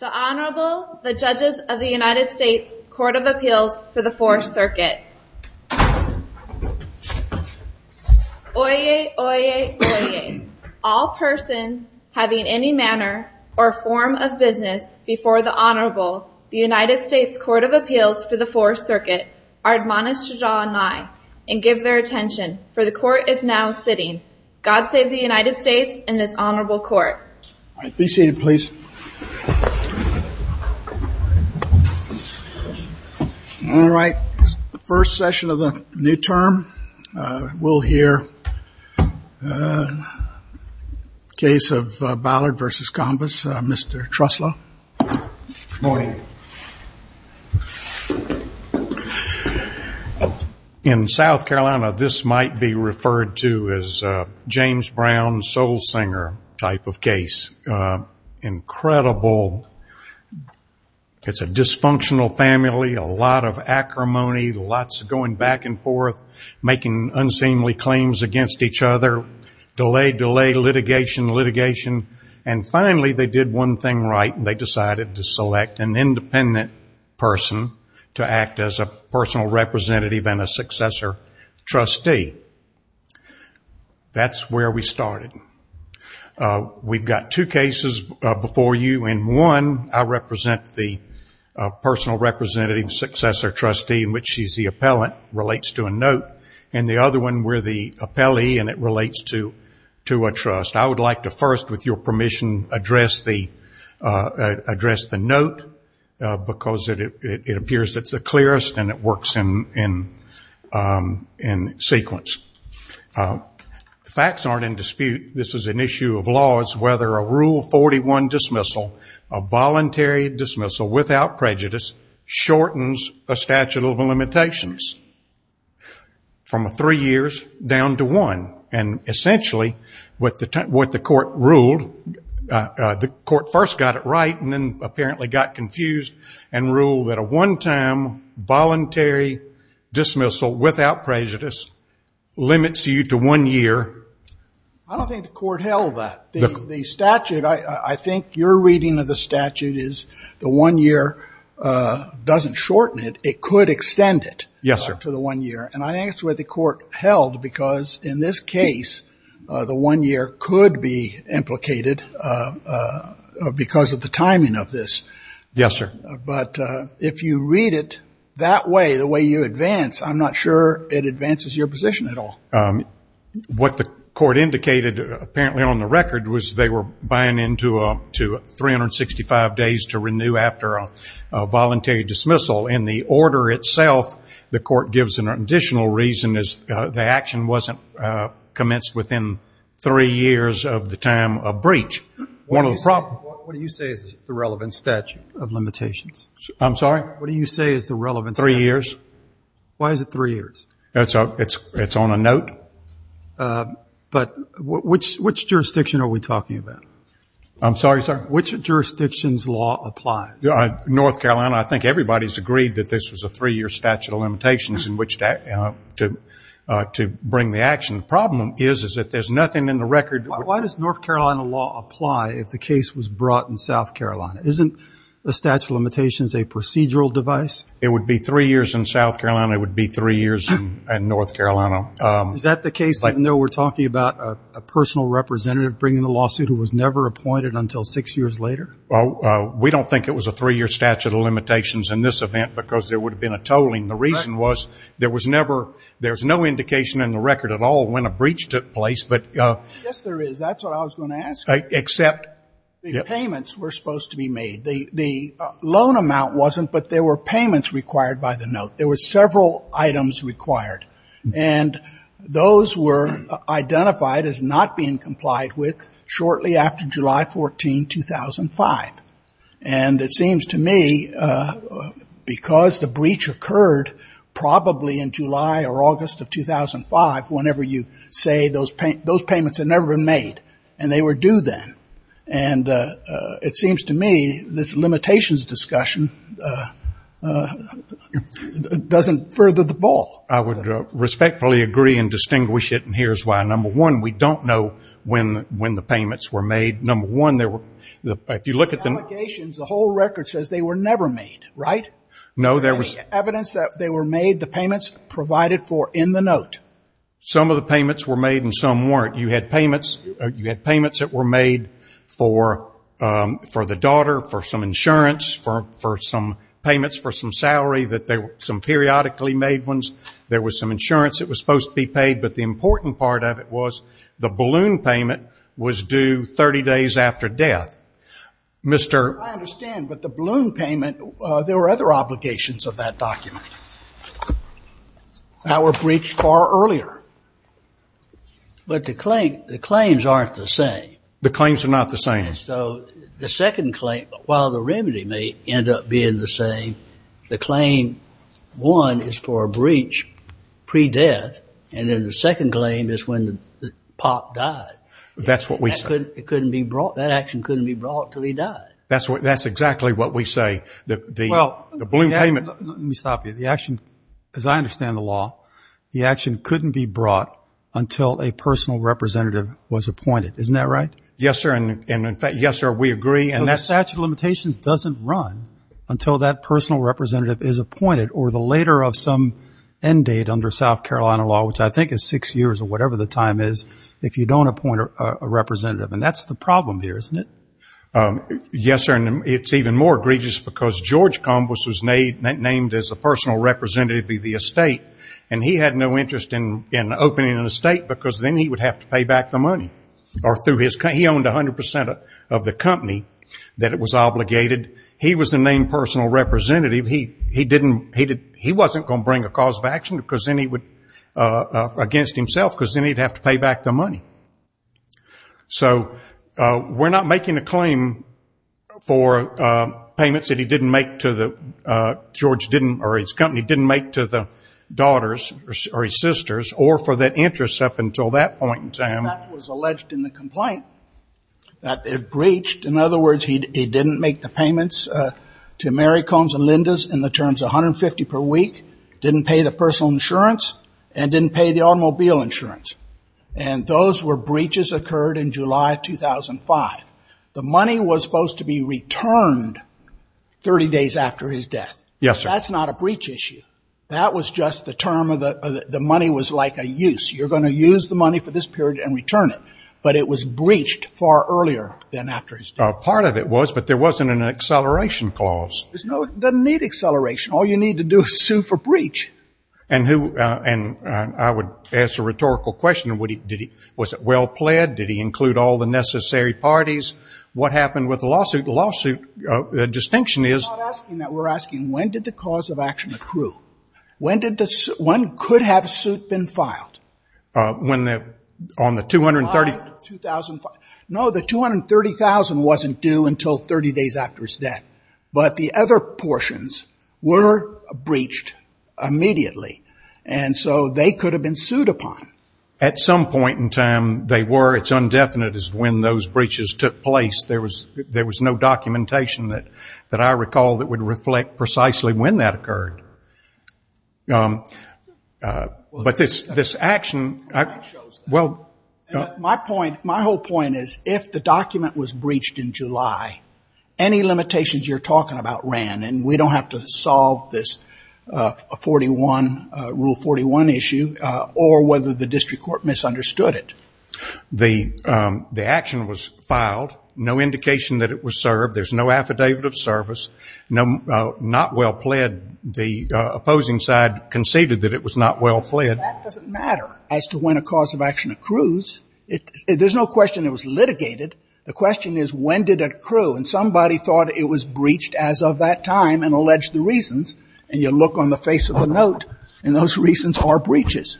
The Honorable, the Judges of the United States Court of Appeals for the Fourth Circuit. Oyez, oyez, oyez, all persons having any manner or form of business before the Honorable, the United States Court of Appeals for the Fourth Circuit, are admonished to draw nigh and give their attention, for the Court is now sitting. God save the United States and this Honorable Court. All right. Be seated, please. All right. First session of the new term. We'll hear a case of Ballard v. Combis. Mr. Truslow. Good morning. In South Carolina, this might be referred to as a James Brown, soul singer type of case. Incredible. It's a dysfunctional family, a lot of acrimony, lots of going back and forth, making unseemly claims against each other, delay, delay, litigation, litigation, and finally, they did one thing right. They decided to select an independent person to act as a personal representative and a successor trustee. That's where we started. We've got two cases before you. In one, I represent the personal representative, successor trustee, in which she's the appellant, relates to a note. In the other one, we're the appellee and it relates to a trust. I would like to first, with your permission, address the note because it appears it's the clearest and it works in sequence. Facts aren't in dispute. This is an issue of law. It's whether a Rule 41 dismissal, a voluntary dismissal without prejudice, shortens a statute of limitations from three years down to one. Essentially, what the court ruled, the court first got it right and then apparently got confused and ruled that a one-time voluntary dismissal without prejudice limits you to one year. I don't think the court held that. I think your reading of the statute is the one year doesn't shorten it. It could extend it to the one year. I asked where the court held because in this case, the one year could be implicated because of the timing of this. Yes, sir. If you read it that way, the way you advance, I'm not sure it advances your position at all. What the court indicated apparently on the record was they were buying into 365 days to renew after a voluntary dismissal. In the additional reason is the action wasn't commenced within three years of the time of breach. What do you say is the relevant statute of limitations? I'm sorry? What do you say is the relevant statute? Three years. Why is it three years? It's on a note. But which jurisdiction are we talking about? I'm sorry, sir? Which jurisdiction's law applies? North Carolina. I think everybody's agreed that this was a three-year statute of limitations in which to bring the action. The problem is that there's nothing in the record. Why does North Carolina law apply if the case was brought in South Carolina? Isn't the statute of limitations a procedural device? It would be three years in South Carolina. It would be three years in North Carolina. Is that the case even though we're talking about a personal representative bringing the lawsuit who was never appointed until six years later? We don't think it was a three-year statute of limitations in this event because there would have been a tolling. The reason was there was never, there's no indication in the record at all when a breach took place. Yes, there is. That's what I was going to ask you, except the payments were supposed to be made. The loan amount wasn't, but there were payments required by the note. There were several items required. And those were identified as not being complied with shortly after July 14, 2005. And it seems to me because the breach occurred probably in July or August of 2005, whenever you say those payments had never been made and they were due then. And it seems to me this limitations discussion doesn't further the ball. I would respectfully agree and distinguish it. And here's why. Number one, we don't know when the payments were made. Number one, if you look at the... The allegations, the whole record says they were never made, right? No, there was... Any evidence that they were made, the payments provided for in the note? Some of the payments were made and some weren't. You had payments that were made for the daughter, for some insurance, for some payments for some salary, some periodically made ones. There was some insurance that was supposed to be paid, but the important part of it was the balloon payment was due 30 days after death. I understand, but the balloon payment, there were other obligations of that document that were breached far earlier. But the claims aren't the same. The claims are not the same. So the second claim, while the remedy may end up being the same, the claim one is for That's what we say. It couldn't be brought, that action couldn't be brought until he died. That's exactly what we say. The balloon payment... Let me stop you. The action, as I understand the law, the action couldn't be brought until a personal representative was appointed. Isn't that right? Yes, sir. And in fact, yes, sir, we agree. So the statute of limitations doesn't run until that personal representative is appointed or the later of some end date under South Carolina law, which I think is six years or if you don't appoint a representative. And that's the problem here, isn't it? Yes, sir. And it's even more egregious because George Combos was named as a personal representative of the estate. And he had no interest in opening an estate because then he would have to pay back the money or through his... He owned 100% of the company that it was obligated. He was the named personal representative. He wasn't going to bring a cause of action against himself because then he'd have to pay back the money. So we're not making a claim for payments that he didn't make to the... George didn't... Or his company didn't make to the daughters or his sisters or for that interest up until that point in time. And that was alleged in the complaint that it breached. In other words, he didn't make the payments to Mary Combs and Linda's in the terms of 150 per week, didn't pay the And those were breaches occurred in July 2005. The money was supposed to be returned 30 days after his death. Yes, sir. That's not a breach issue. That was just the term of the... The money was like a use. You're going to use the money for this period and return it. But it was breached far earlier than after his death. Part of it was, but there wasn't an acceleration clause. There's no... It doesn't need acceleration. All you need to do is sue for breach. And who... And I would ask a rhetorical question. Would he... Did he... Was it well pled? Did he include all the necessary parties? What happened with the lawsuit? The lawsuit distinction is... We're not asking that. We're asking when did the cause of action accrue? When did the... When could have suit been filed? When the... On the 230... 2005. No, the 230,000 wasn't due until 30 days after his death. But the other portions were breached immediately. And so they could have been sued upon. At some point in time, they were. It's undefinite as when those breaches took place. There was... There was no documentation that I recall that would reflect precisely when that occurred. But this action... Well, my point... My whole point is if the document was breached in July, any limitations you're talking about ran. And we don't have to solve this 41... Rule 41 issue or whether the district court misunderstood it. The action was filed. No indication that it was served. There's no affidavit of service. Not well pled. The opposing side conceded that it was not well pled. That doesn't matter as to when a cause of action accrues. There's no question it was breached as of that time and alleged the reasons. And you look on the face of the note and those reasons are breaches.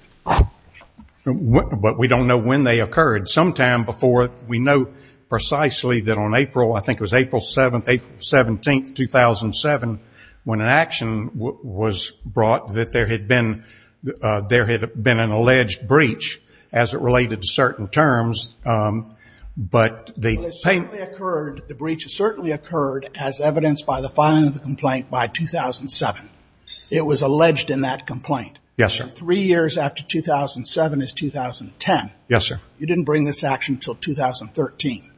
But we don't know when they occurred. Sometime before, we know precisely that on April, I think it was April 7th, April 17th, 2007, when an action was brought, that there had been... There had been an alleged breach as it related to certain terms. But the... Certainly occurred, the breach certainly occurred as evidenced by the filing of the complaint by 2007. It was alleged in that complaint. Yes, sir. Three years after 2007 is 2010. Yes, sir. You didn't bring this action until 2013.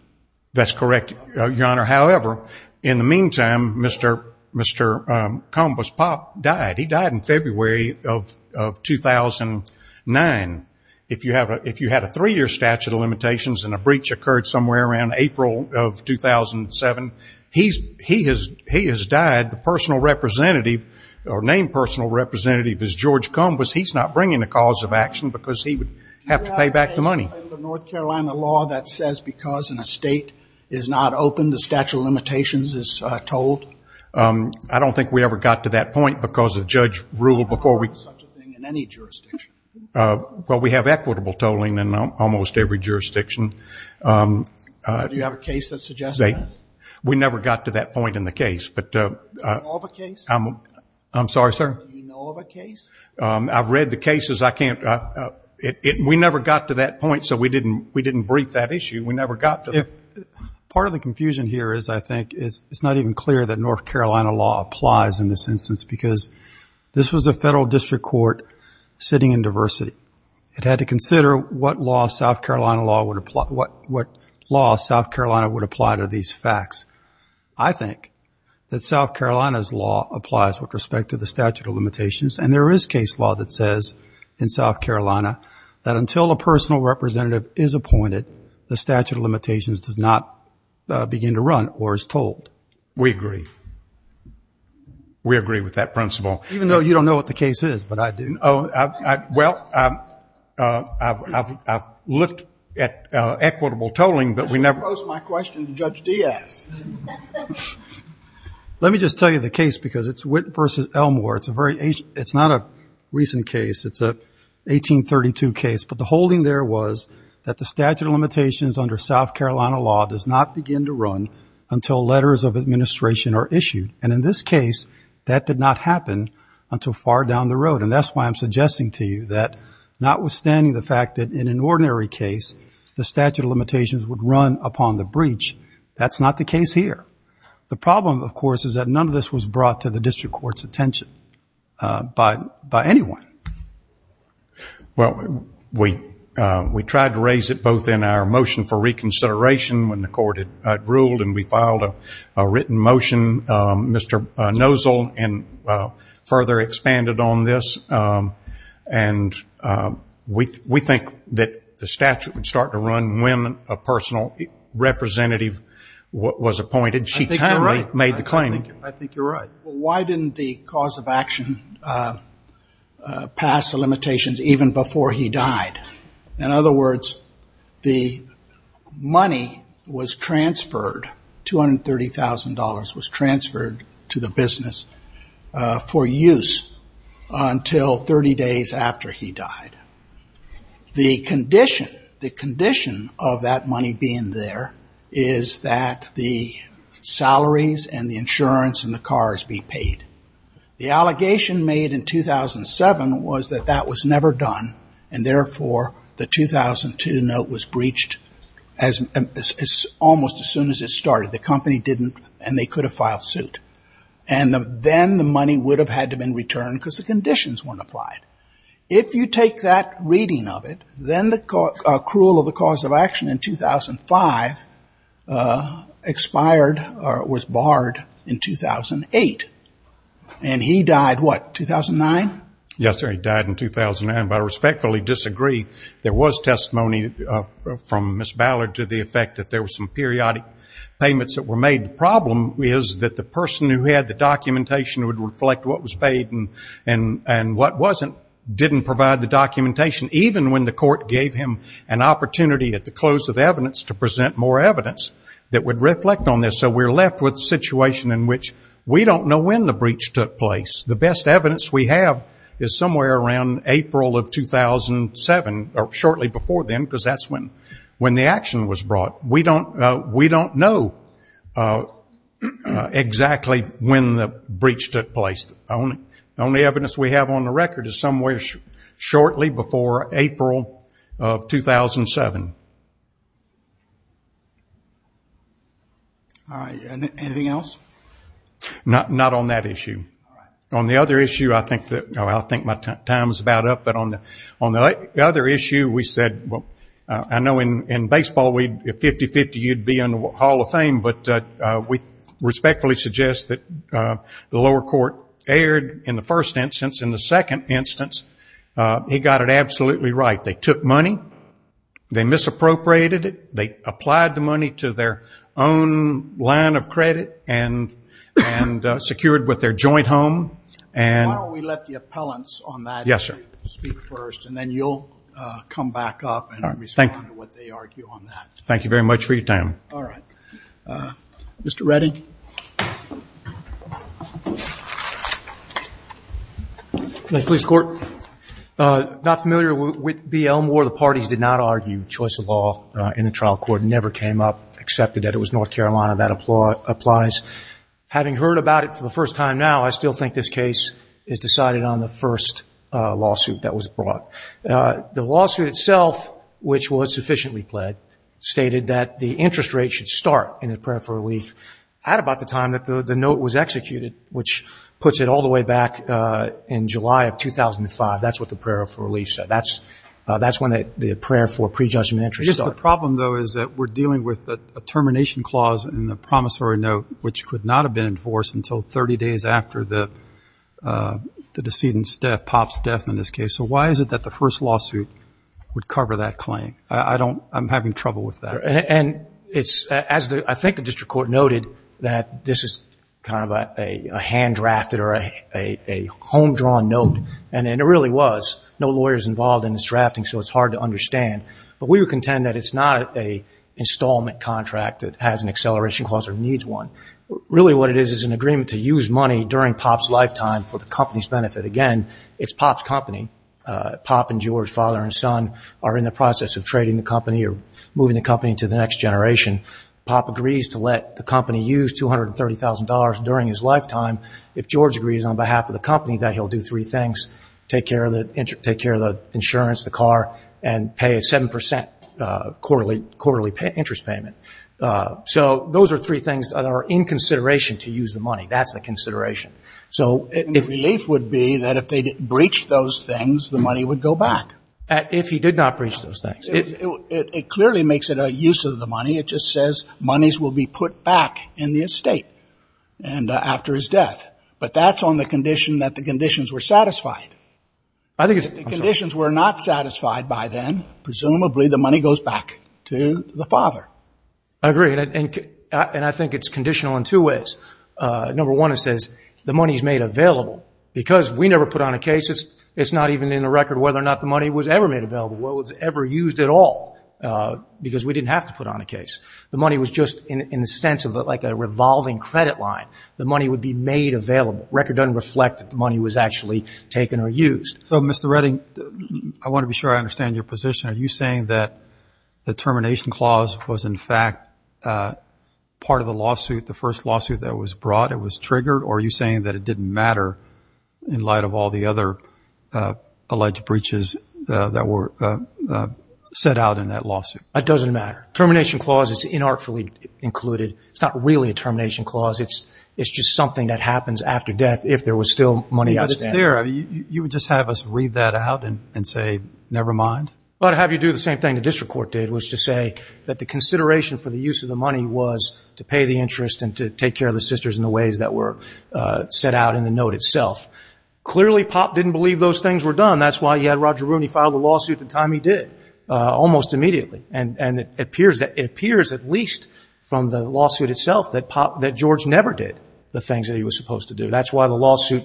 That's correct, Your Honor. However, in the meantime, Mr. Combus Popp died. He died in February of 2009. If you had a three-year statute of limitations and a breach occurred somewhere around April of 2007, he has died. The personal representative or named personal representative is George Combus. He's not bringing a cause of action because he would have to pay back the money. Do you have an example in the North Carolina law that says because an estate is not open, the statute of limitations is tolled? I don't think we ever got to that point because the judge ruled before we... I don't know of such a thing in any jurisdiction. Well, we have equitable tolling in almost every jurisdiction. Do you have a case that suggests that? We never got to that point in the case, but... Do you know of a case? I'm sorry, sir? Do you know of a case? I've read the cases. I can't... We never got to that point, so we didn't brief that issue. We never got to... Part of the confusion here is, I think, it's not even clear that North Carolina law applies in this instance because this was a federal district court sitting in diversity. It had to consider what law South Carolina would apply to these facts. I think that South Carolina's law applies with respect to the statute of limitations, and there is case law that says in South Carolina that until a personal representative is appointed, the statute of limitations does not begin to run or is tolled. We agree. We agree with that principle. Even though you don't know what the case is, but I do. Well, I've looked at equitable tolling, but we never... I should pose my question to Judge Diaz. Let me just tell you the case because it's Witt v. Elmore. It's a very ancient... It's not a recent case. It's a 1832 case, but the holding there was that the statute of limitations under South Carolina law does not begin to run until letters of administration are issued, and in this case, that did not happen until far down the road, and that's why I'm suggesting to you that notwithstanding the fact that in an ordinary case, the statute of limitations would run upon the breach, that's not the case here. The problem, of course, is that none of this was brought to the district court's attention by anyone. Well, we tried to raise it both in our motion for reconsideration when the court had ruled and we filed a written motion, Mr. Nosel, and further expanded on this, and we think that the statute would start to run when a personal representative was appointed. She timely made the claim. I think you're right. Why didn't the cause of action pass the limitations even before he died? In other words, the money was transferred, $230,000 was transferred to the business for use until 30 days after he died. The condition of that money being there is that the salaries and the insurance and the cars be paid. The allegation made in 2007 was that that was never done, and therefore, the 2002 note was breached almost as soon as it started. The company didn't, and they could have filed suit, and then the money would have had to have been returned because the conditions weren't applied. If you take that reading of it, then the accrual of the cause of action in 2005 expired, was it, in 2008, and he died, what, 2009? Yes, sir. He died in 2009, but I respectfully disagree. There was testimony from Ms. Ballard to the effect that there were some periodic payments that were made. The problem is that the person who had the documentation would reflect what was paid, and what wasn't didn't provide the documentation, even when the court gave him an opportunity at the close of evidence to present more evidence that would reflect on this. We're left with a situation in which we don't know when the breach took place. The best evidence we have is somewhere around April of 2007, or shortly before then, because that's when the action was brought. We don't know exactly when the breach took place. The only evidence we have on the record is somewhere shortly before April of 2007. Anything else? Not on that issue. On the other issue, I think my time is about up, but on the other issue, we said, I know in baseball, 50-50, you'd be in the Hall of Fame, but we respectfully suggest that the lower court erred in the first instance. In the second instance, he got it absolutely right. They took money, they misappropriated it, they applied the line of credit, and secured with their joint home. Why don't we let the appellants on that issue speak first, and then you'll come back up and respond to what they argue on that. Thank you very much for your time. Mr. Redding. Nice to meet you, Mr. Court. Not familiar with BL Moore, the parties did not argue the choice of law in the trial court, never came up, accepted that it was North Carolina, that applies. Having heard about it for the first time now, I still think this case is decided on the first lawsuit that was brought. The lawsuit itself, which was sufficiently pled, stated that the interest rate should start in a prayer for relief at about the time that the note was executed, which puts it all the way back in July of 2005. That's what the prayer for relief said. That's when the prayer for prejudgment interest started. I guess the problem, though, is that we're dealing with a termination clause in the promissory note, which could not have been enforced until 30 days after the decedent's death, Pop's death in this case. So why is it that the first lawsuit would cover that claim? I'm having trouble with that. I think the district court noted that this is kind of a hand-drafted or a home-drawn note, and it really was. No lawyers involved in its drafting, so it's hard to understand. We would contend that it's not an installment contract that has an acceleration clause or needs one. Really what it is is an agreement to use money during Pop's lifetime for the company's benefit. Again, it's Pop's company. Pop and George, father and son, are in the process of trading the company or moving the company to the next generation. Pop agrees to let the company use $230,000 during his lifetime. If George agrees on behalf of the three things, take care of the insurance, the car, and pay a 7% quarterly interest payment. So those are three things that are in consideration to use the money. That's the consideration. So relief would be that if they breached those things, the money would go back. If he did not breach those things. It clearly makes it a use of the money. It just says monies will be put back in the estate after his death. But that's on the condition that the conditions were satisfied. If the conditions were not satisfied by then, presumably the money goes back to the father. I agree. I think it's conditional in two ways. Number one, it says the money is made available. Because we never put on a case, it's not even in the record whether or not the money was ever made available, was ever used at all, because we didn't have to put on a case. The money would be made available. The record doesn't reflect that the money was actually taken or used. So Mr. Redding, I want to be sure I understand your position. Are you saying that the termination clause was in fact part of the lawsuit, the first lawsuit that was brought, it was triggered? Or are you saying that it didn't matter in light of all the other alleged breaches that were set out in that lawsuit? That doesn't matter. Termination clause is inartfully included. It's not really a termination clause. It's just something that happens after death if there was still money outstanding. But it's there. You would just have us read that out and say, never mind? I'd have you do the same thing the district court did, which was to say that the consideration for the use of the money was to pay the interest and to take care of the sisters in the ways that were set out in the note itself. Clearly, Pop didn't believe those things were done. That's why he had Roger Rooney file the lawsuit the time he did, almost immediately. It appears at least from the lawsuit itself that George never did the things that he was supposed to do. That's why the lawsuit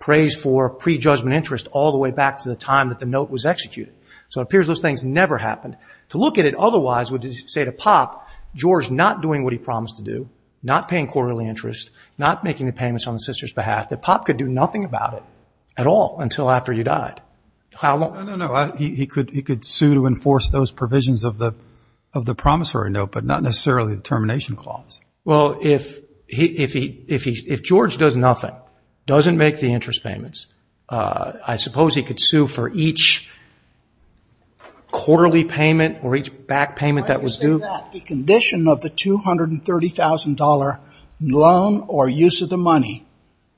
prays for pre-judgment interest all the way back to the time that the note was executed. So it appears those things never happened. To look at it otherwise would say to Pop, George not doing what he promised to do, not paying quarterly interest, not making the payments on the sisters' behalf, that Pop could do nothing about it at all until after you died. No, no, no. He could sue to enforce those provisions of the promissory note, but not necessarily the termination clause. Well, if George does nothing, doesn't make the interest payments, I suppose he could sue for each quarterly payment or each back payment that was due? The condition of the $230,000 loan or use of the money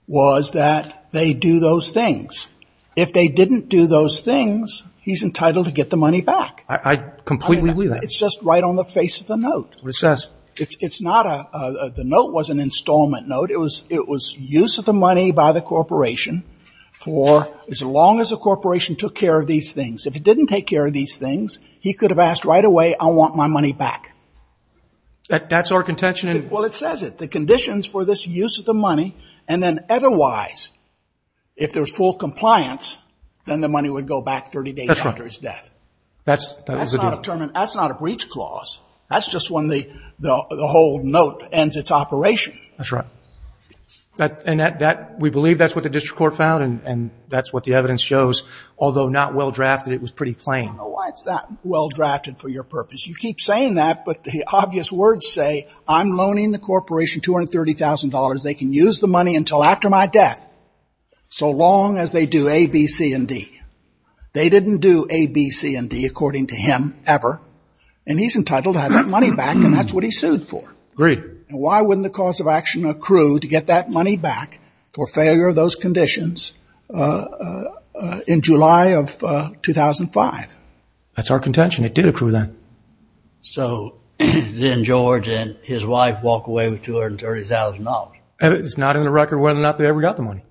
was that they do those things. If they didn't do those things, he's entitled to get the money back. I completely agree with that. It's just right on the face of the note. What it says? It's not a – the note was an installment note. It was use of the money by the corporation for as long as the corporation took care of these things. If it didn't take care of these things, he could have asked right away, I want my money back. That's our contention. Well, it says it. The conditions for this use of the money, and then otherwise, if there's full compliance, then the money would go back 30 days after his death. That's right. That was the deal. That's not a breach clause. That's just when the whole note ends its operation. That's right. And we believe that's what the district court found, and that's what the evidence shows. Although not well drafted, it was pretty plain. I don't know why it's that well drafted for your purpose. You keep saying that, but the obvious words say, I'm loaning the corporation $230,000. They can use the money until after my death, so long as they do A, B, C, and D. They didn't do A, B, C, and D, according to him, ever. And he's entitled to have that money back, and that's what he sued for. Agreed. And why wouldn't the cause of action accrue to get that money back for failure of those $230,000? That's our contention. It did accrue then. So then George and his wife walk away with $230,000. It's not in the record whether or not they ever got the money.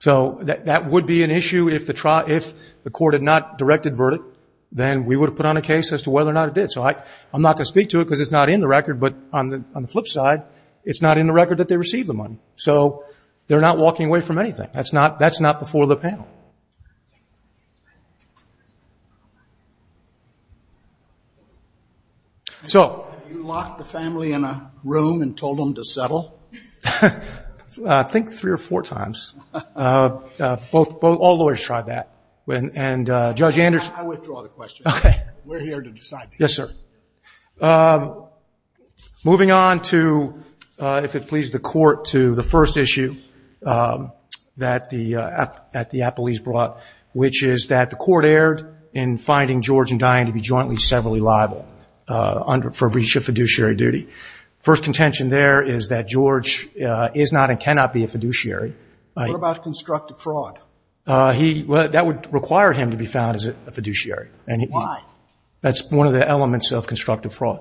So that would be an issue if the court had not directed verdict, then we would have put on a case as to whether or not it did. So I'm not going to speak to it because it's not in the record, but on the flip side, it's not in the record that they received the money. So they're not walking away from anything. That's not before the panel. So have you locked the family in a room and told them to settle? I think three or four times. Both, all lawyers tried that. And Judge Anderson I withdraw the question. We're here to decide the case. Yes, sir. Moving on to, if it pleases the court, to the first issue that the appellees brought, which is that the court erred in finding George and Diane to be jointly severally liable for breach of fiduciary duty. First contention there is that George is not and cannot be a fiduciary. What about constructive fraud? That would require him to be found as a fiduciary. Why? That's one of the elements of constructive fraud.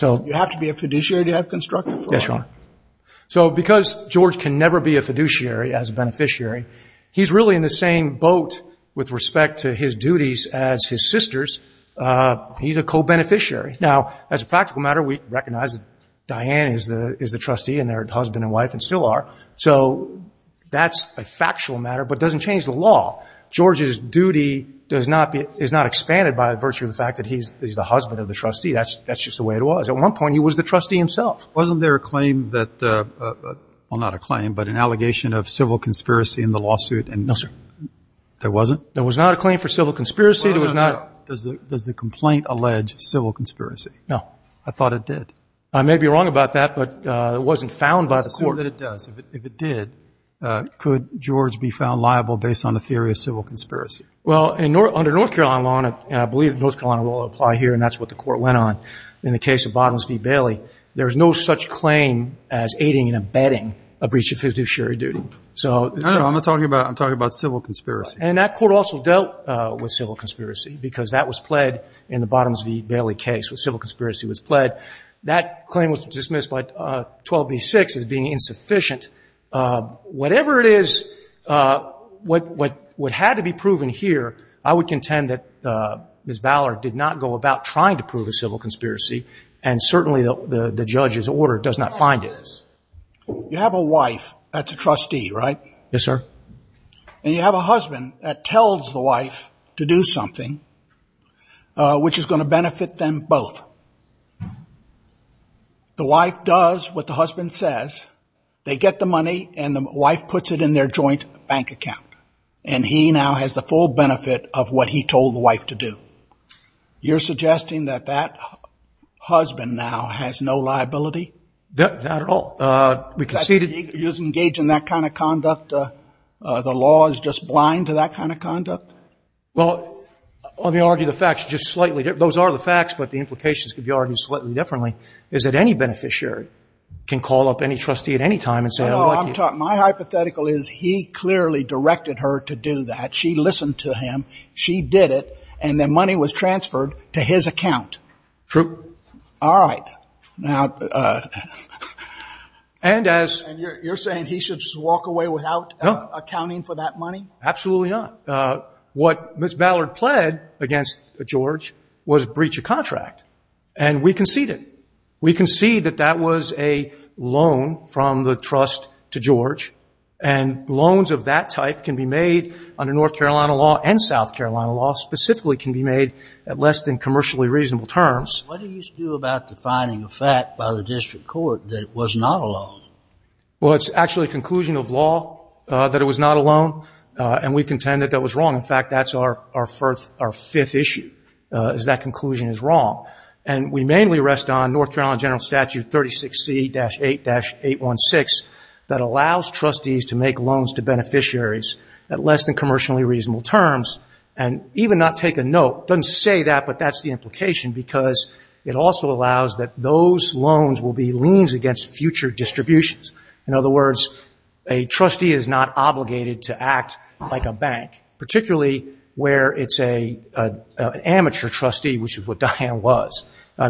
You have to be a fiduciary to have constructive fraud? Yes, Your Honor. So because George can never be a fiduciary as a beneficiary, he's really in the same boat with respect to his duties as his sisters. He's a co-beneficiary. Now as a practical matter, we recognize that Diane is the trustee and their husband and wife and still are. So that's a factual matter, but it doesn't change the law. George's duty does not be, is not expanded by virtue of the fact that he's the husband of the trustee. That's just the way it was. At one point he was the trustee himself. Wasn't there a claim that, well not a claim, but an allegation of civil conspiracy in the lawsuit? No, sir. There wasn't? There was not a claim for civil conspiracy. There was not. Does the complaint allege civil conspiracy? No. I thought it did. I may be wrong about that, but it wasn't found by the court. Let's assume that it does. If it did, could George be found liable based on a theory of civil conspiracy? Well, under North Carolina law, and I believe North Carolina law will apply here, and that's what the court went on, in the case of Bottoms v. Bailey, there's no such claim as aiding and abetting a breach of fiduciary duty. I know. I'm not talking about, I'm talking about civil conspiracy. And that court also dealt with civil conspiracy because that was pled in the Bottoms v. Bailey case, where civil conspiracy was pled. That claim was dismissed by 12B6 as being insufficient. Whatever it is, what had to be proven here, I would contend that Ms. Ballard did not go about trying to prove a civil conspiracy, and certainly the judge's order does not find it. You have a wife that's a trustee, right? Yes, sir. And you have a husband that tells the wife to do something which is going to benefit them both. The wife does what the husband says, they get the money, and the wife puts it in their joint bank account, and he now has the full benefit of what he told the wife to do. You're suggesting that that husband now has no liability? Not at all. We conceded... He doesn't engage in that kind of conduct? The law is just blind to that kind of conduct? Well, let me argue the facts just slightly. Those are the facts, but the implications could be argued slightly differently, is that any beneficiary can call up any trustee at any time and say... My hypothetical is he clearly directed her to do that. She listened to him, she did it, and the money was transferred to his account. True. All right. Now... And as... And you're saying he should just walk away without accounting for that money? Absolutely not. What Ms. Ballard pled against George was breach of contract, and we conceded. We conceded that that was a loan from the trust to George, and loans of that type can be made under North Carolina law and South Carolina law, specifically can be made at less than commercially reasonable terms. What do you do about the finding of fact by the district court that it was not a loan? Well, it's actually a conclusion of law that it was not a loan, and we contend that that was wrong. In fact, that's our fifth issue, is that conclusion is wrong. And we mainly rest on North Carolina General Statute 36C-8-816 that allows trustees to make loans to beneficiaries at less than commercially reasonable terms, and even not take a note, doesn't say that, but that's the implication, because it also allows that those loans will be liens against future distributions. In other words, a trustee is not obligated to act like a bank, particularly where it's an amateur trustee, which is what Diane was.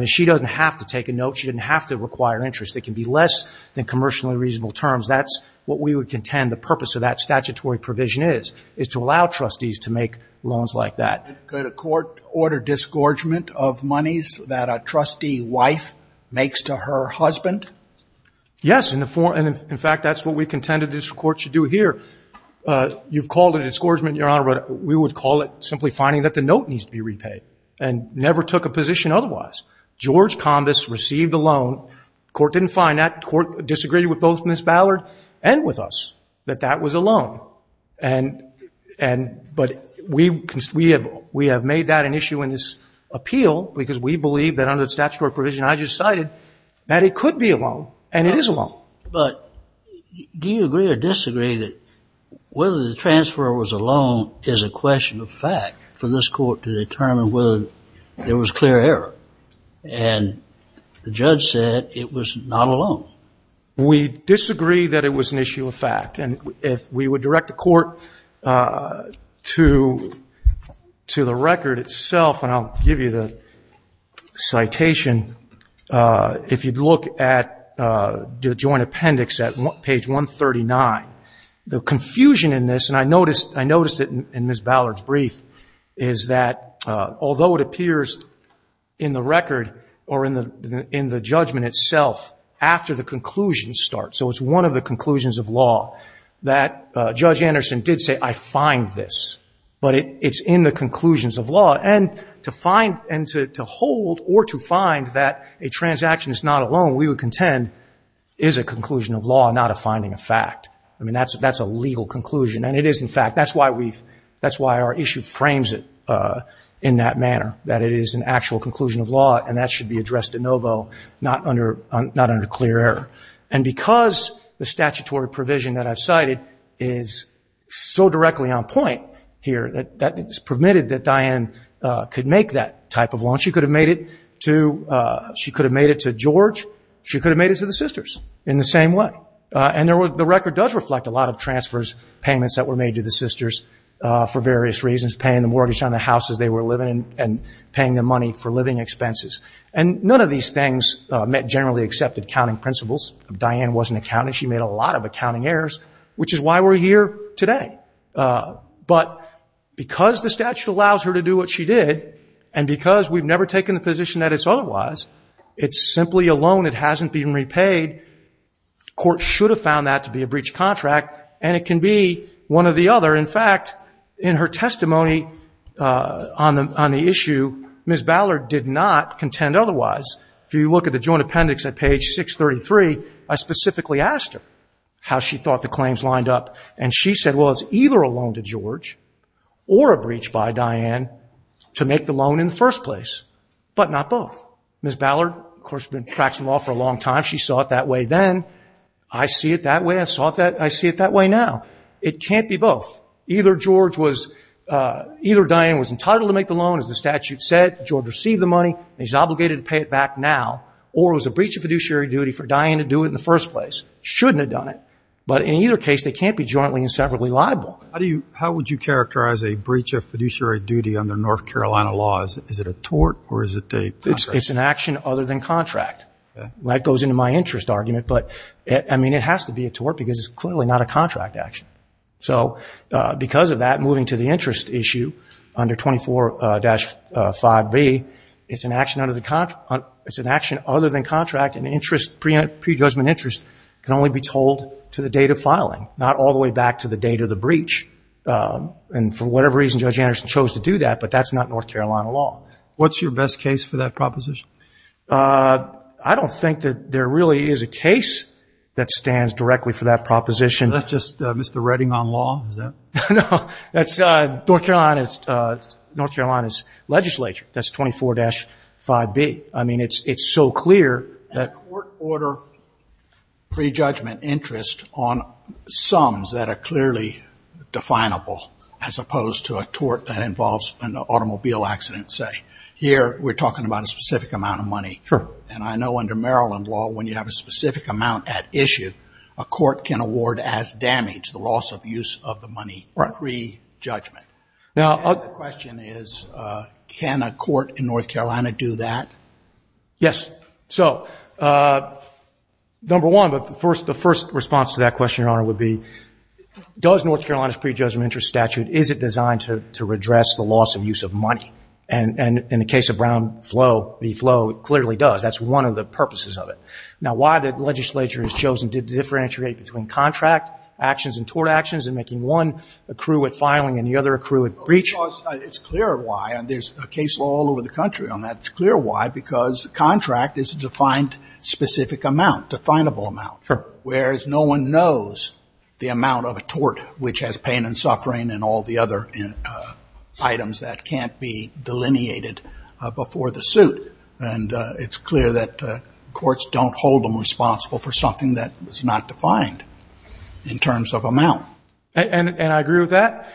She doesn't have to take a note. She didn't have to require interest. It can be less than commercially reasonable terms. That's what we would contend the purpose of that statutory provision is, is to allow trustees to make loans like that. Could a court order disgorgement of monies that a trustee wife makes to her husband? Yes, and in fact, that's what we contended this Court should do here. You've called it a disgorgement, Your Honor, but we would call it simply finding that the note needs to be repaid, and never took a position otherwise. George Combis received a loan. Court didn't find that. Court disagreed with both Ms. Ballard and with us, that that was a loan. But we have made that an issue in this appeal, because we believe that under the statutory provision, I just cited, that it could be a loan, and it is a loan. But do you agree or disagree that whether the transfer was a loan is a question of fact for this Court to determine whether there was clear error? And the judge said it was not a loan. We disagree that it was an issue of fact, and if we would direct the Court to the record itself, and I'll give you the citation, if you'd look at the joint appendix at page 139, the confusion in this, and I noticed it in Ms. Ballard's brief, is that although it appears in the record or in the judgment itself after the conclusions start, so it's one of the conclusions of law, that Judge Anderson did say, I find this. But it's in the conclusions of law, and to find, and to hold or to find that a transaction is not a loan, we would contend is a conclusion of law, not a finding of fact. I mean, that's a legal conclusion, and it is, in fact, that's why we've, that's why our issue frames it in that manner, that it is an actual conclusion of law, and that should be addressed de novo, not under clear error. And because the statutory provision that I've cited is so directly on point here, that it's permitted that Diane could make that type of loan. She could have made it to, she could have made it to George, she could have made it to the sisters in the same way. And the record does reflect a lot of transfers, payments that were made to the sisters for various reasons, paying the mortgage on the houses they were living in and paying them money for living expenses. And none of these things met generally accepted counting principles. Diane was an accountant, she made a lot of accounting errors, which is why we're here today. But because the statute allows her to do what she did, and because we've never taken the position that it's otherwise, it's simply a loan that hasn't been repaid, court should have found that to be a breached contract, and it can be one or the other. In fact, in her testimony on the issue, Ms. Ballard did not contend otherwise. If you look at the statute, I specifically asked her how she thought the claims lined up, and she said, well, it's either a loan to George or a breach by Diane to make the loan in the first place, but not both. Ms. Ballard, of course, has been practicing law for a long time, she saw it that way then, I see it that way, I see it that way now. It can't be both. Either George was, either Diane was entitled to make the loan, as the statute said, George received the money, and he's obligated to pay it back now, or it was a breach of fiduciary duty for Diane to do it in the first place. Shouldn't have done it. But in either case, they can't be jointly and separately liable. How do you, how would you characterize a breach of fiduciary duty under North Carolina laws? Is it a tort, or is it a contract? It's an action other than contract. That goes into my interest argument, but, I mean, it has to be a tort, because it's clearly not a contract action. So, because of that, moving to the interest issue, under 24-5B, it's an action under the contract, it's an action other than contract, and interest, prejudgment interest can only be told to the date of filing, not all the way back to the date of the breach. And for whatever reason, Judge Anderson chose to do that, but that's not North Carolina law. What's your best case for that proposition? I don't think that there really is a case that stands directly for that proposition. That's just Mr. Redding on law, is that? No, that's, North Carolina's legislature, that's 24-5B. I mean, it's so clear. That court order prejudgment interest on sums that are clearly definable, as opposed to a tort that involves an automobile accident, say. Here, we're talking about a specific amount of money. Sure. And I know under Maryland law, when you have a specific amount at issue, a court can award as damage, the loss of use of the money, prejudgment. Right. And the question is, can a court in North Carolina do that? Yes. So, number one, but the first response to that question, Your Honor, would be, does North Carolina's prejudgment interest statute, is it designed to redress the loss of use of money? And in the case of Brown v. Floe, it clearly does. That's one of the purposes of it. Now, why the legislature has chosen to differentiate between contract actions and tort actions in making one accrue at filing and the other accrue at breach? It's clear why, and there's a case law all over the country on that. It's clear why, because contract is a defined specific amount, definable amount. Sure. Whereas no one knows the amount of a tort which has pain and suffering and all the other items that can't be delineated before the suit. And it's clear that courts don't hold them responsible for something that is not defined in terms of amount. And I agree with that.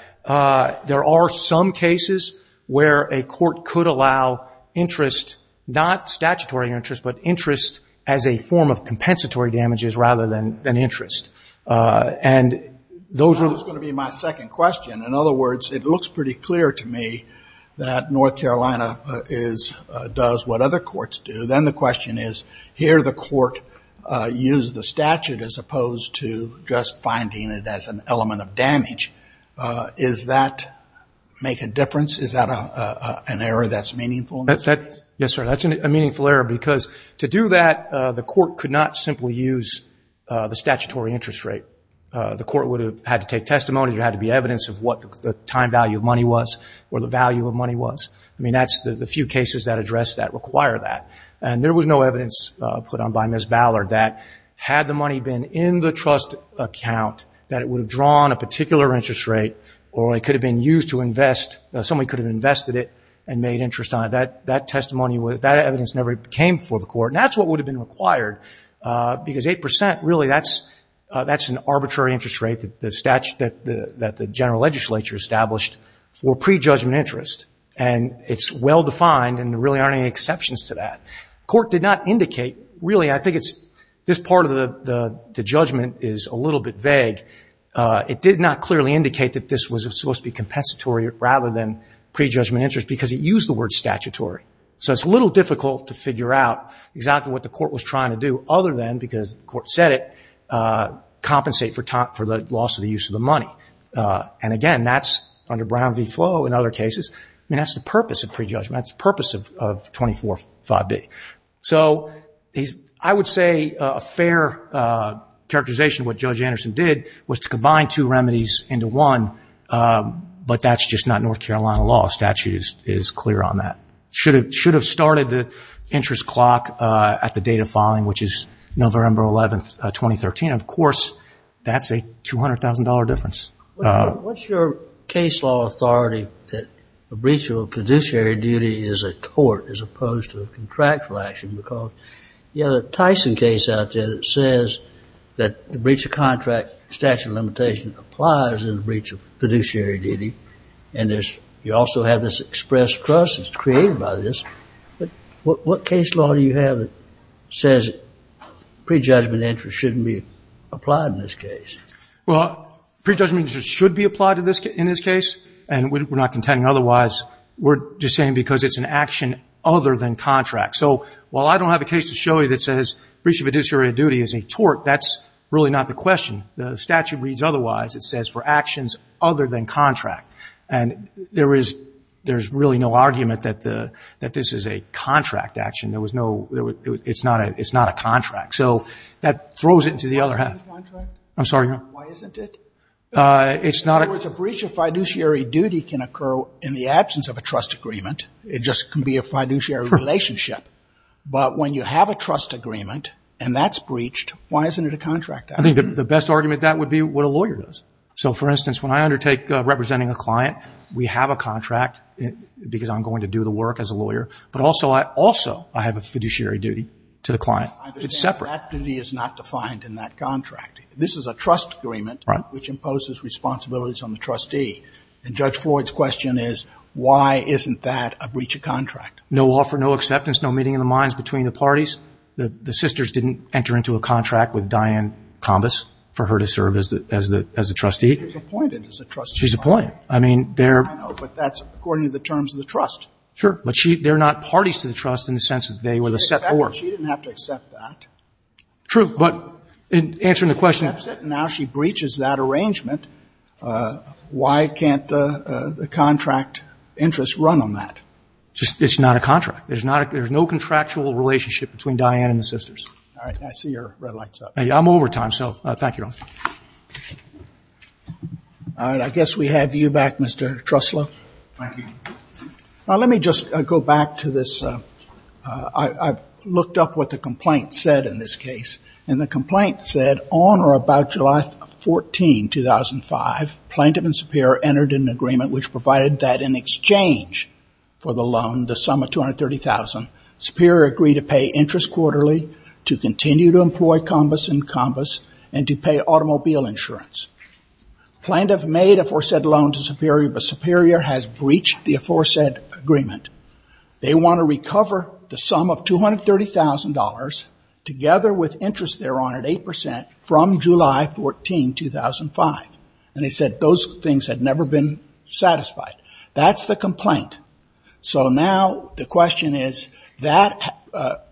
There are some cases where a court could allow interest, not statutory interest, but interest as a form of compensatory damages rather than interest. And those are the... That's going to be my second question. In other words, it looks pretty clear to me that North Carolina does what other courts do. Then the question is, here the court used the statute as opposed to just finding it as an element of damage. Does that make a difference? Is that an error that's meaningful? Yes, sir. That's a meaningful error because to do that, the court could not simply use the statutory interest rate. The court would have had to take testimony. There had to be evidence of what the time value of money was or the value of money was. I mean, that's the few cases that address that, require that. And there was no evidence put on by Ms. Ballard that had the money been in the trust account, that it would have drawn a particular interest rate or it could have been used to invest, somebody could have invested it and made interest on it. That testimony, that evidence never came before the court. And that's what would have been required because 8%, really, that's an arbitrary interest rate that the general legislature established for prejudgment interest. And it's well-defined and there really aren't any exceptions to that. The court did not indicate, really, I think this part of the judgment is a little bit vague. It did not clearly indicate that this was supposed to be compensatory rather than prejudgment interest because it used the word statutory. So it's a little difficult to figure out exactly what the court was trying to do other than, because the court said it, compensate for the loss of the use of the money. And again, that's under Brown v. Flo in other cases. I mean, that's the purpose of prejudgment. That's the purpose of 24-5B. So I would say a fair characterization of what Judge Anderson did was to combine two remedies into one, but that's just not North Carolina law. Statute is clear on that. Should have started the interest clock at the date of filing, which is November 11, 2013. Of course, that's a $200,000 difference. What's your case law authority that a breach of a fiduciary duty is a tort as opposed to a contractual action? Because you have a Tyson case out there that says that the breach of contract statute of limitation applies in the breach of fiduciary duty. And you also have this express trust that's created by this. But what case law do you have that says prejudgment interest shouldn't be applied in this case? Well, prejudgment interest should be applied in this case. And we're not contending otherwise. We're just saying because it's an action other than contract. So while I don't have a case to show you that says breach of fiduciary duty is a tort, that's really not the question. The statute reads otherwise. It says for actions other than contract. And there is really no argument that this is a contract action. It's not a contract. So that throws it into the other half. Why isn't it a contract? I'm sorry. Why isn't it? It's not a In other words, a breach of fiduciary duty can occur in the absence of a trust agreement. It just can be a fiduciary relationship. But when you have a trust agreement and that's breached, why isn't it a contract action? I think the best argument to that would be what a lawyer does. So for instance, when I undertake representing a client, we have a contract because I'm going to do the work as a lawyer. But also I have a fiduciary duty to the client. It's separate. Activity is not defined in that contract. This is a trust agreement which imposes responsibilities on the trustee. And Judge Floyd's question is, why isn't that a breach of contract? No offer, no acceptance, no meeting of the minds between the parties. The sisters didn't enter into a contract with Diane Kambas for her to serve as the trustee. She was appointed as a trustee. She's appointed. I mean, they're I know, but that's according to the terms of the trust. Sure. But they're not parties to the trust in the sense that they were the set for. She didn't have to accept that. True. But in answering the question Now she breaches that arrangement. Why can't the contract interest run on that? It's not a contract. There's no contractual relationship between Diane and the sisters. All right. I see your red light's up. I'm over time, so thank you, Your Honor. All right. I guess we have you back, Mr. Truslow. Thank you. Let me just go back to this. I've looked up what the complaint said in this case. And the complaint said, on or about July 14, 2005, Plaintiff and Superior entered an agreement which provided that in exchange for the loan, the sum of $230,000, Superior agreed to pay interest quarterly, to continue to employ Kambas and Kambas, and to pay automobile insurance. Plaintiff made a foresaid loan to Superior, but Superior has breached the aforesaid agreement. They want to recover the sum of $230,000, together with interest they're on at 8%, from July 14, 2005. And they said those things had never been satisfied. That's the complaint. So now the question is, that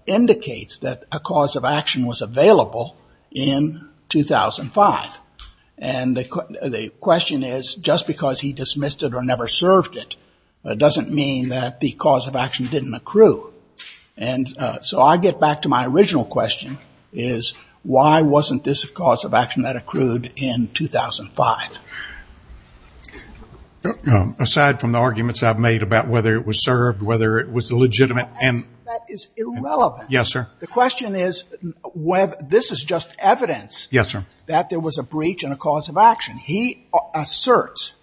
indicates that a cause of action was available in 2005. And the question is, just because he dismissed it or never served it, doesn't mean that the cause of action didn't accrue. And so I get back to my original question is, why wasn't this a cause of action that accrued in 2005? Aside from the arguments I've made about whether it was served, whether it was legitimate. That is irrelevant. Yes, sir. The question is, this is just evidence. Yes, sir. That there was a breach and a cause of action. He asserts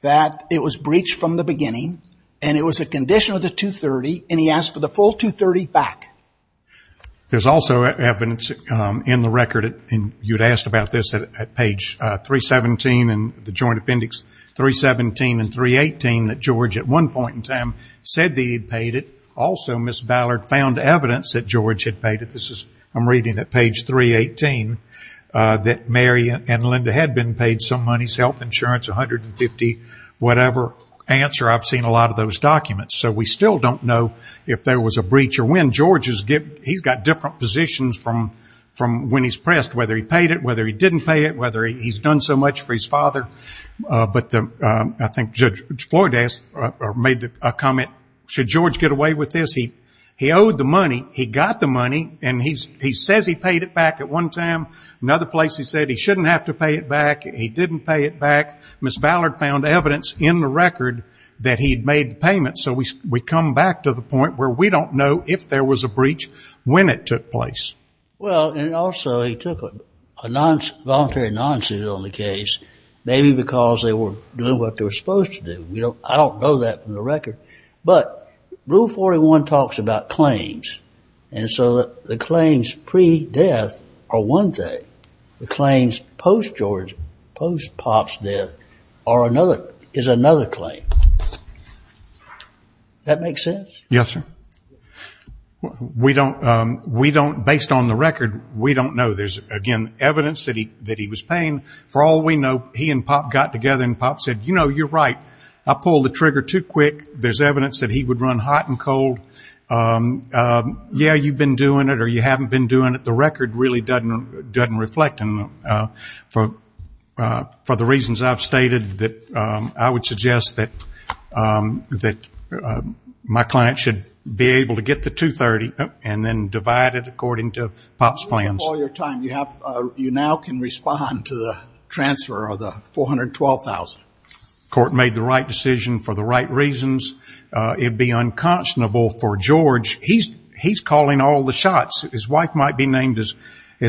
that it was breached from the beginning, and it was a condition of the $230,000, and he asked for the full $230,000 back. There's also evidence in the record, and you'd asked about this, at page 317 in the Joint Appendix 317 and 318 that George, at one point in time, said that he'd paid it. Also, Ms. Ballard found evidence that George had paid it. I'm reading at page 318 that Mary and Linda had been paid some money, health insurance, $150,000, whatever answer. I've seen a lot of those documents. So we still don't know if there was a breach or when. He's got different positions from when he's pressed, whether he paid it, whether he didn't pay it, whether he's done so much for his father. I think Judge Floyd made a comment, should George get away with this? He owed the money. He got the money, and he says he paid it back at one time. Another place he said he shouldn't have to pay it back. He didn't pay it back. Ms. Ballard found evidence in the record that he'd made the payment. So we come back to the point where we don't know if there was a breach, when it took place. Well, and also he took a voluntary non-suit on the case, maybe because they were doing what they were supposed to do. I don't know that from the record. But Rule 41 talks about claims, and so the claims pre-death are one thing. The claims post-George, post-Pop's death is another claim. Does that make sense? Yes, sir. We don't, based on the record, we don't know. There's, again, evidence that he was paying. For all we know, he and Pop got together, and Pop said, you know, you're right. I pulled the trigger too quick. There's evidence that he would run hot and cold. Yeah, you've been doing it or you haven't been doing it. The record really doesn't reflect. For the reasons I've stated, I would suggest that my client should be able to get the 230 and then divide it according to Pop's plans. You have all your time. You now can respond to the transfer of the $412,000. The court made the right decision for the right reasons. It would be unconscionable for George. He's calling all the shots. His wife might be named as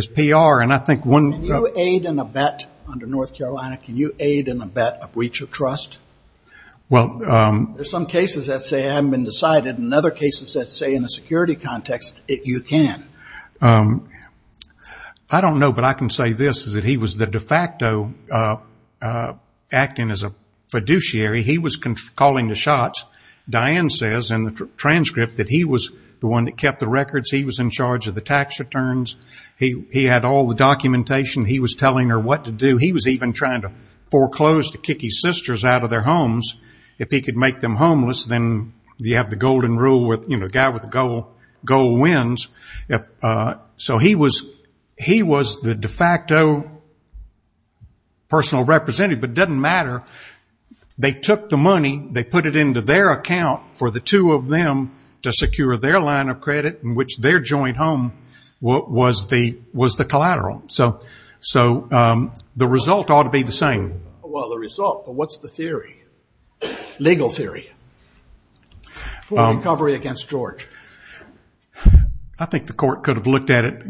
PR. Can you aid in a bet under North Carolina? Can you aid in a bet of breach of trust? There's some cases that say it hasn't been decided, and other cases that say in a security context you can. I don't know, but I can say this, is that he was the de facto acting as a fiduciary. He was calling the shots. Diane says in the transcript that he was the one that kept the records. He was in charge of the tax returns. He had all the documentation. He was telling her what to do. He was even trying to foreclose to kick his sisters out of their homes. If he could make them homeless, then you have the golden rule, the guy with the gold wins. So he was the de facto personal representative, but it doesn't matter. They took the money. They put it into their account for the two of them to secure their line of credit, in which their joint home was the collateral. So the result ought to be the same. Well, the result, but what's the theory, legal theory? For recovery against George. I think the court could have looked at it.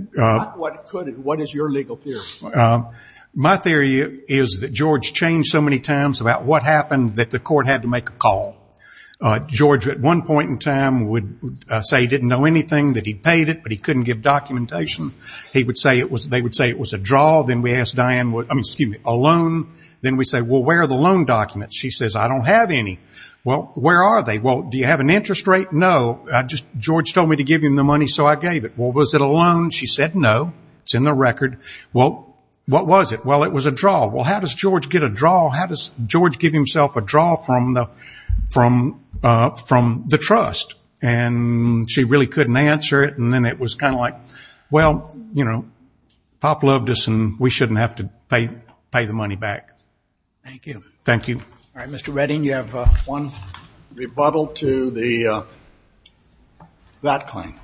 What is your legal theory? My theory is that George changed so many times about what happened that the court had to make a call. George, at one point in time, would say he didn't know anything, that he paid it, but he couldn't give documentation. They would say it was a draw. Then we asked Diane, excuse me, a loan. Then we said, well, where are the loan documents? She says, I don't have any. Well, where are they? Well, do you have an interest rate? No. George told me to give him the money, so I gave it. Well, was it a loan? She said no. It's in the record. Well, what was it? Well, it was a draw. Well, how does George get a draw? How does George give himself a draw from the trust? And she really couldn't answer it, and then it was kind of like, well, you know, Pop loved us, and we shouldn't have to pay the money back. Thank you. Thank you. All right, Mr. Redding, you have one rebuttal to that claim.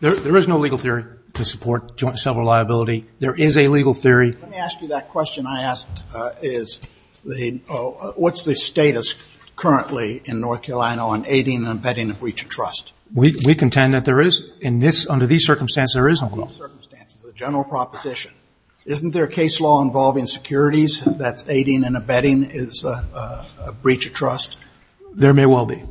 There is no legal theory to support joint and several liability. There is a legal theory. Let me ask you that question I asked, is what's the status currently in North Carolina on aiding and abetting a breach of trust? We contend that there is. Under these circumstances, there is no breach of trust. Under these circumstances, a general proposition. Isn't there a case law involving securities that's aiding and abetting is a breach of trust? There may well be,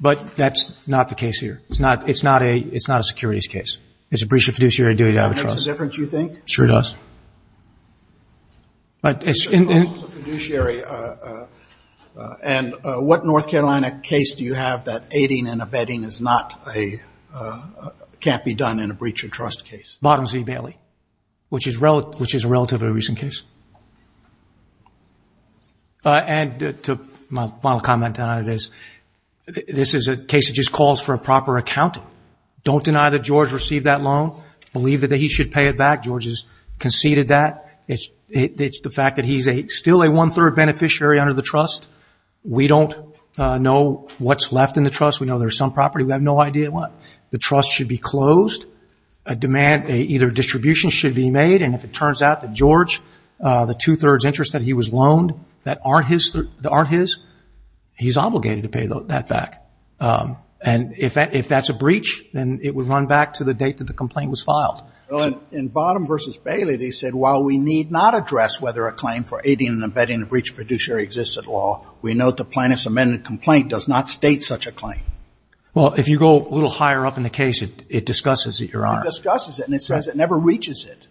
but that's not the case here. It's not a securities case. It's a breach of fiduciary duty out of a trust. That makes a difference, you think? Sure does. But it's in the... A fiduciary, and what North Carolina case do you have that aiding and abetting is not a, can't be done in a breach of trust case? It's Bottomsy Bailey, which is a relatively recent case. And my final comment on it is this is a case that just calls for a proper accounting. Don't deny that George received that loan. Believe that he should pay it back. George has conceded that. It's the fact that he's still a one-third beneficiary under the trust. We don't know what's left in the trust. We know there's some property. We have no idea what. The trust should be closed. A demand, either distribution should be made, and if it turns out that George, the two-thirds interest that he was loaned, that aren't his, he's obligated to pay that back. And if that's a breach, then it would run back to the date that the complaint was filed. In Bottom versus Bailey, they said, while we need not address whether a claim for aiding and abetting a breach of fiduciary exists at law, we note the plaintiff's amended complaint does not state such a claim. Well, if you go a little higher up in the case, it discusses it, Your Honor. It discusses it, and it says it never reaches it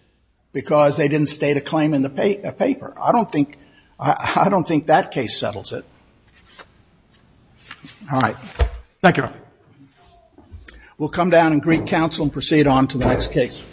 because they didn't state a claim in the paper. I don't think that case settles it. All right. Thank you, Your Honor. We'll come down and greet counsel and proceed on to the next case.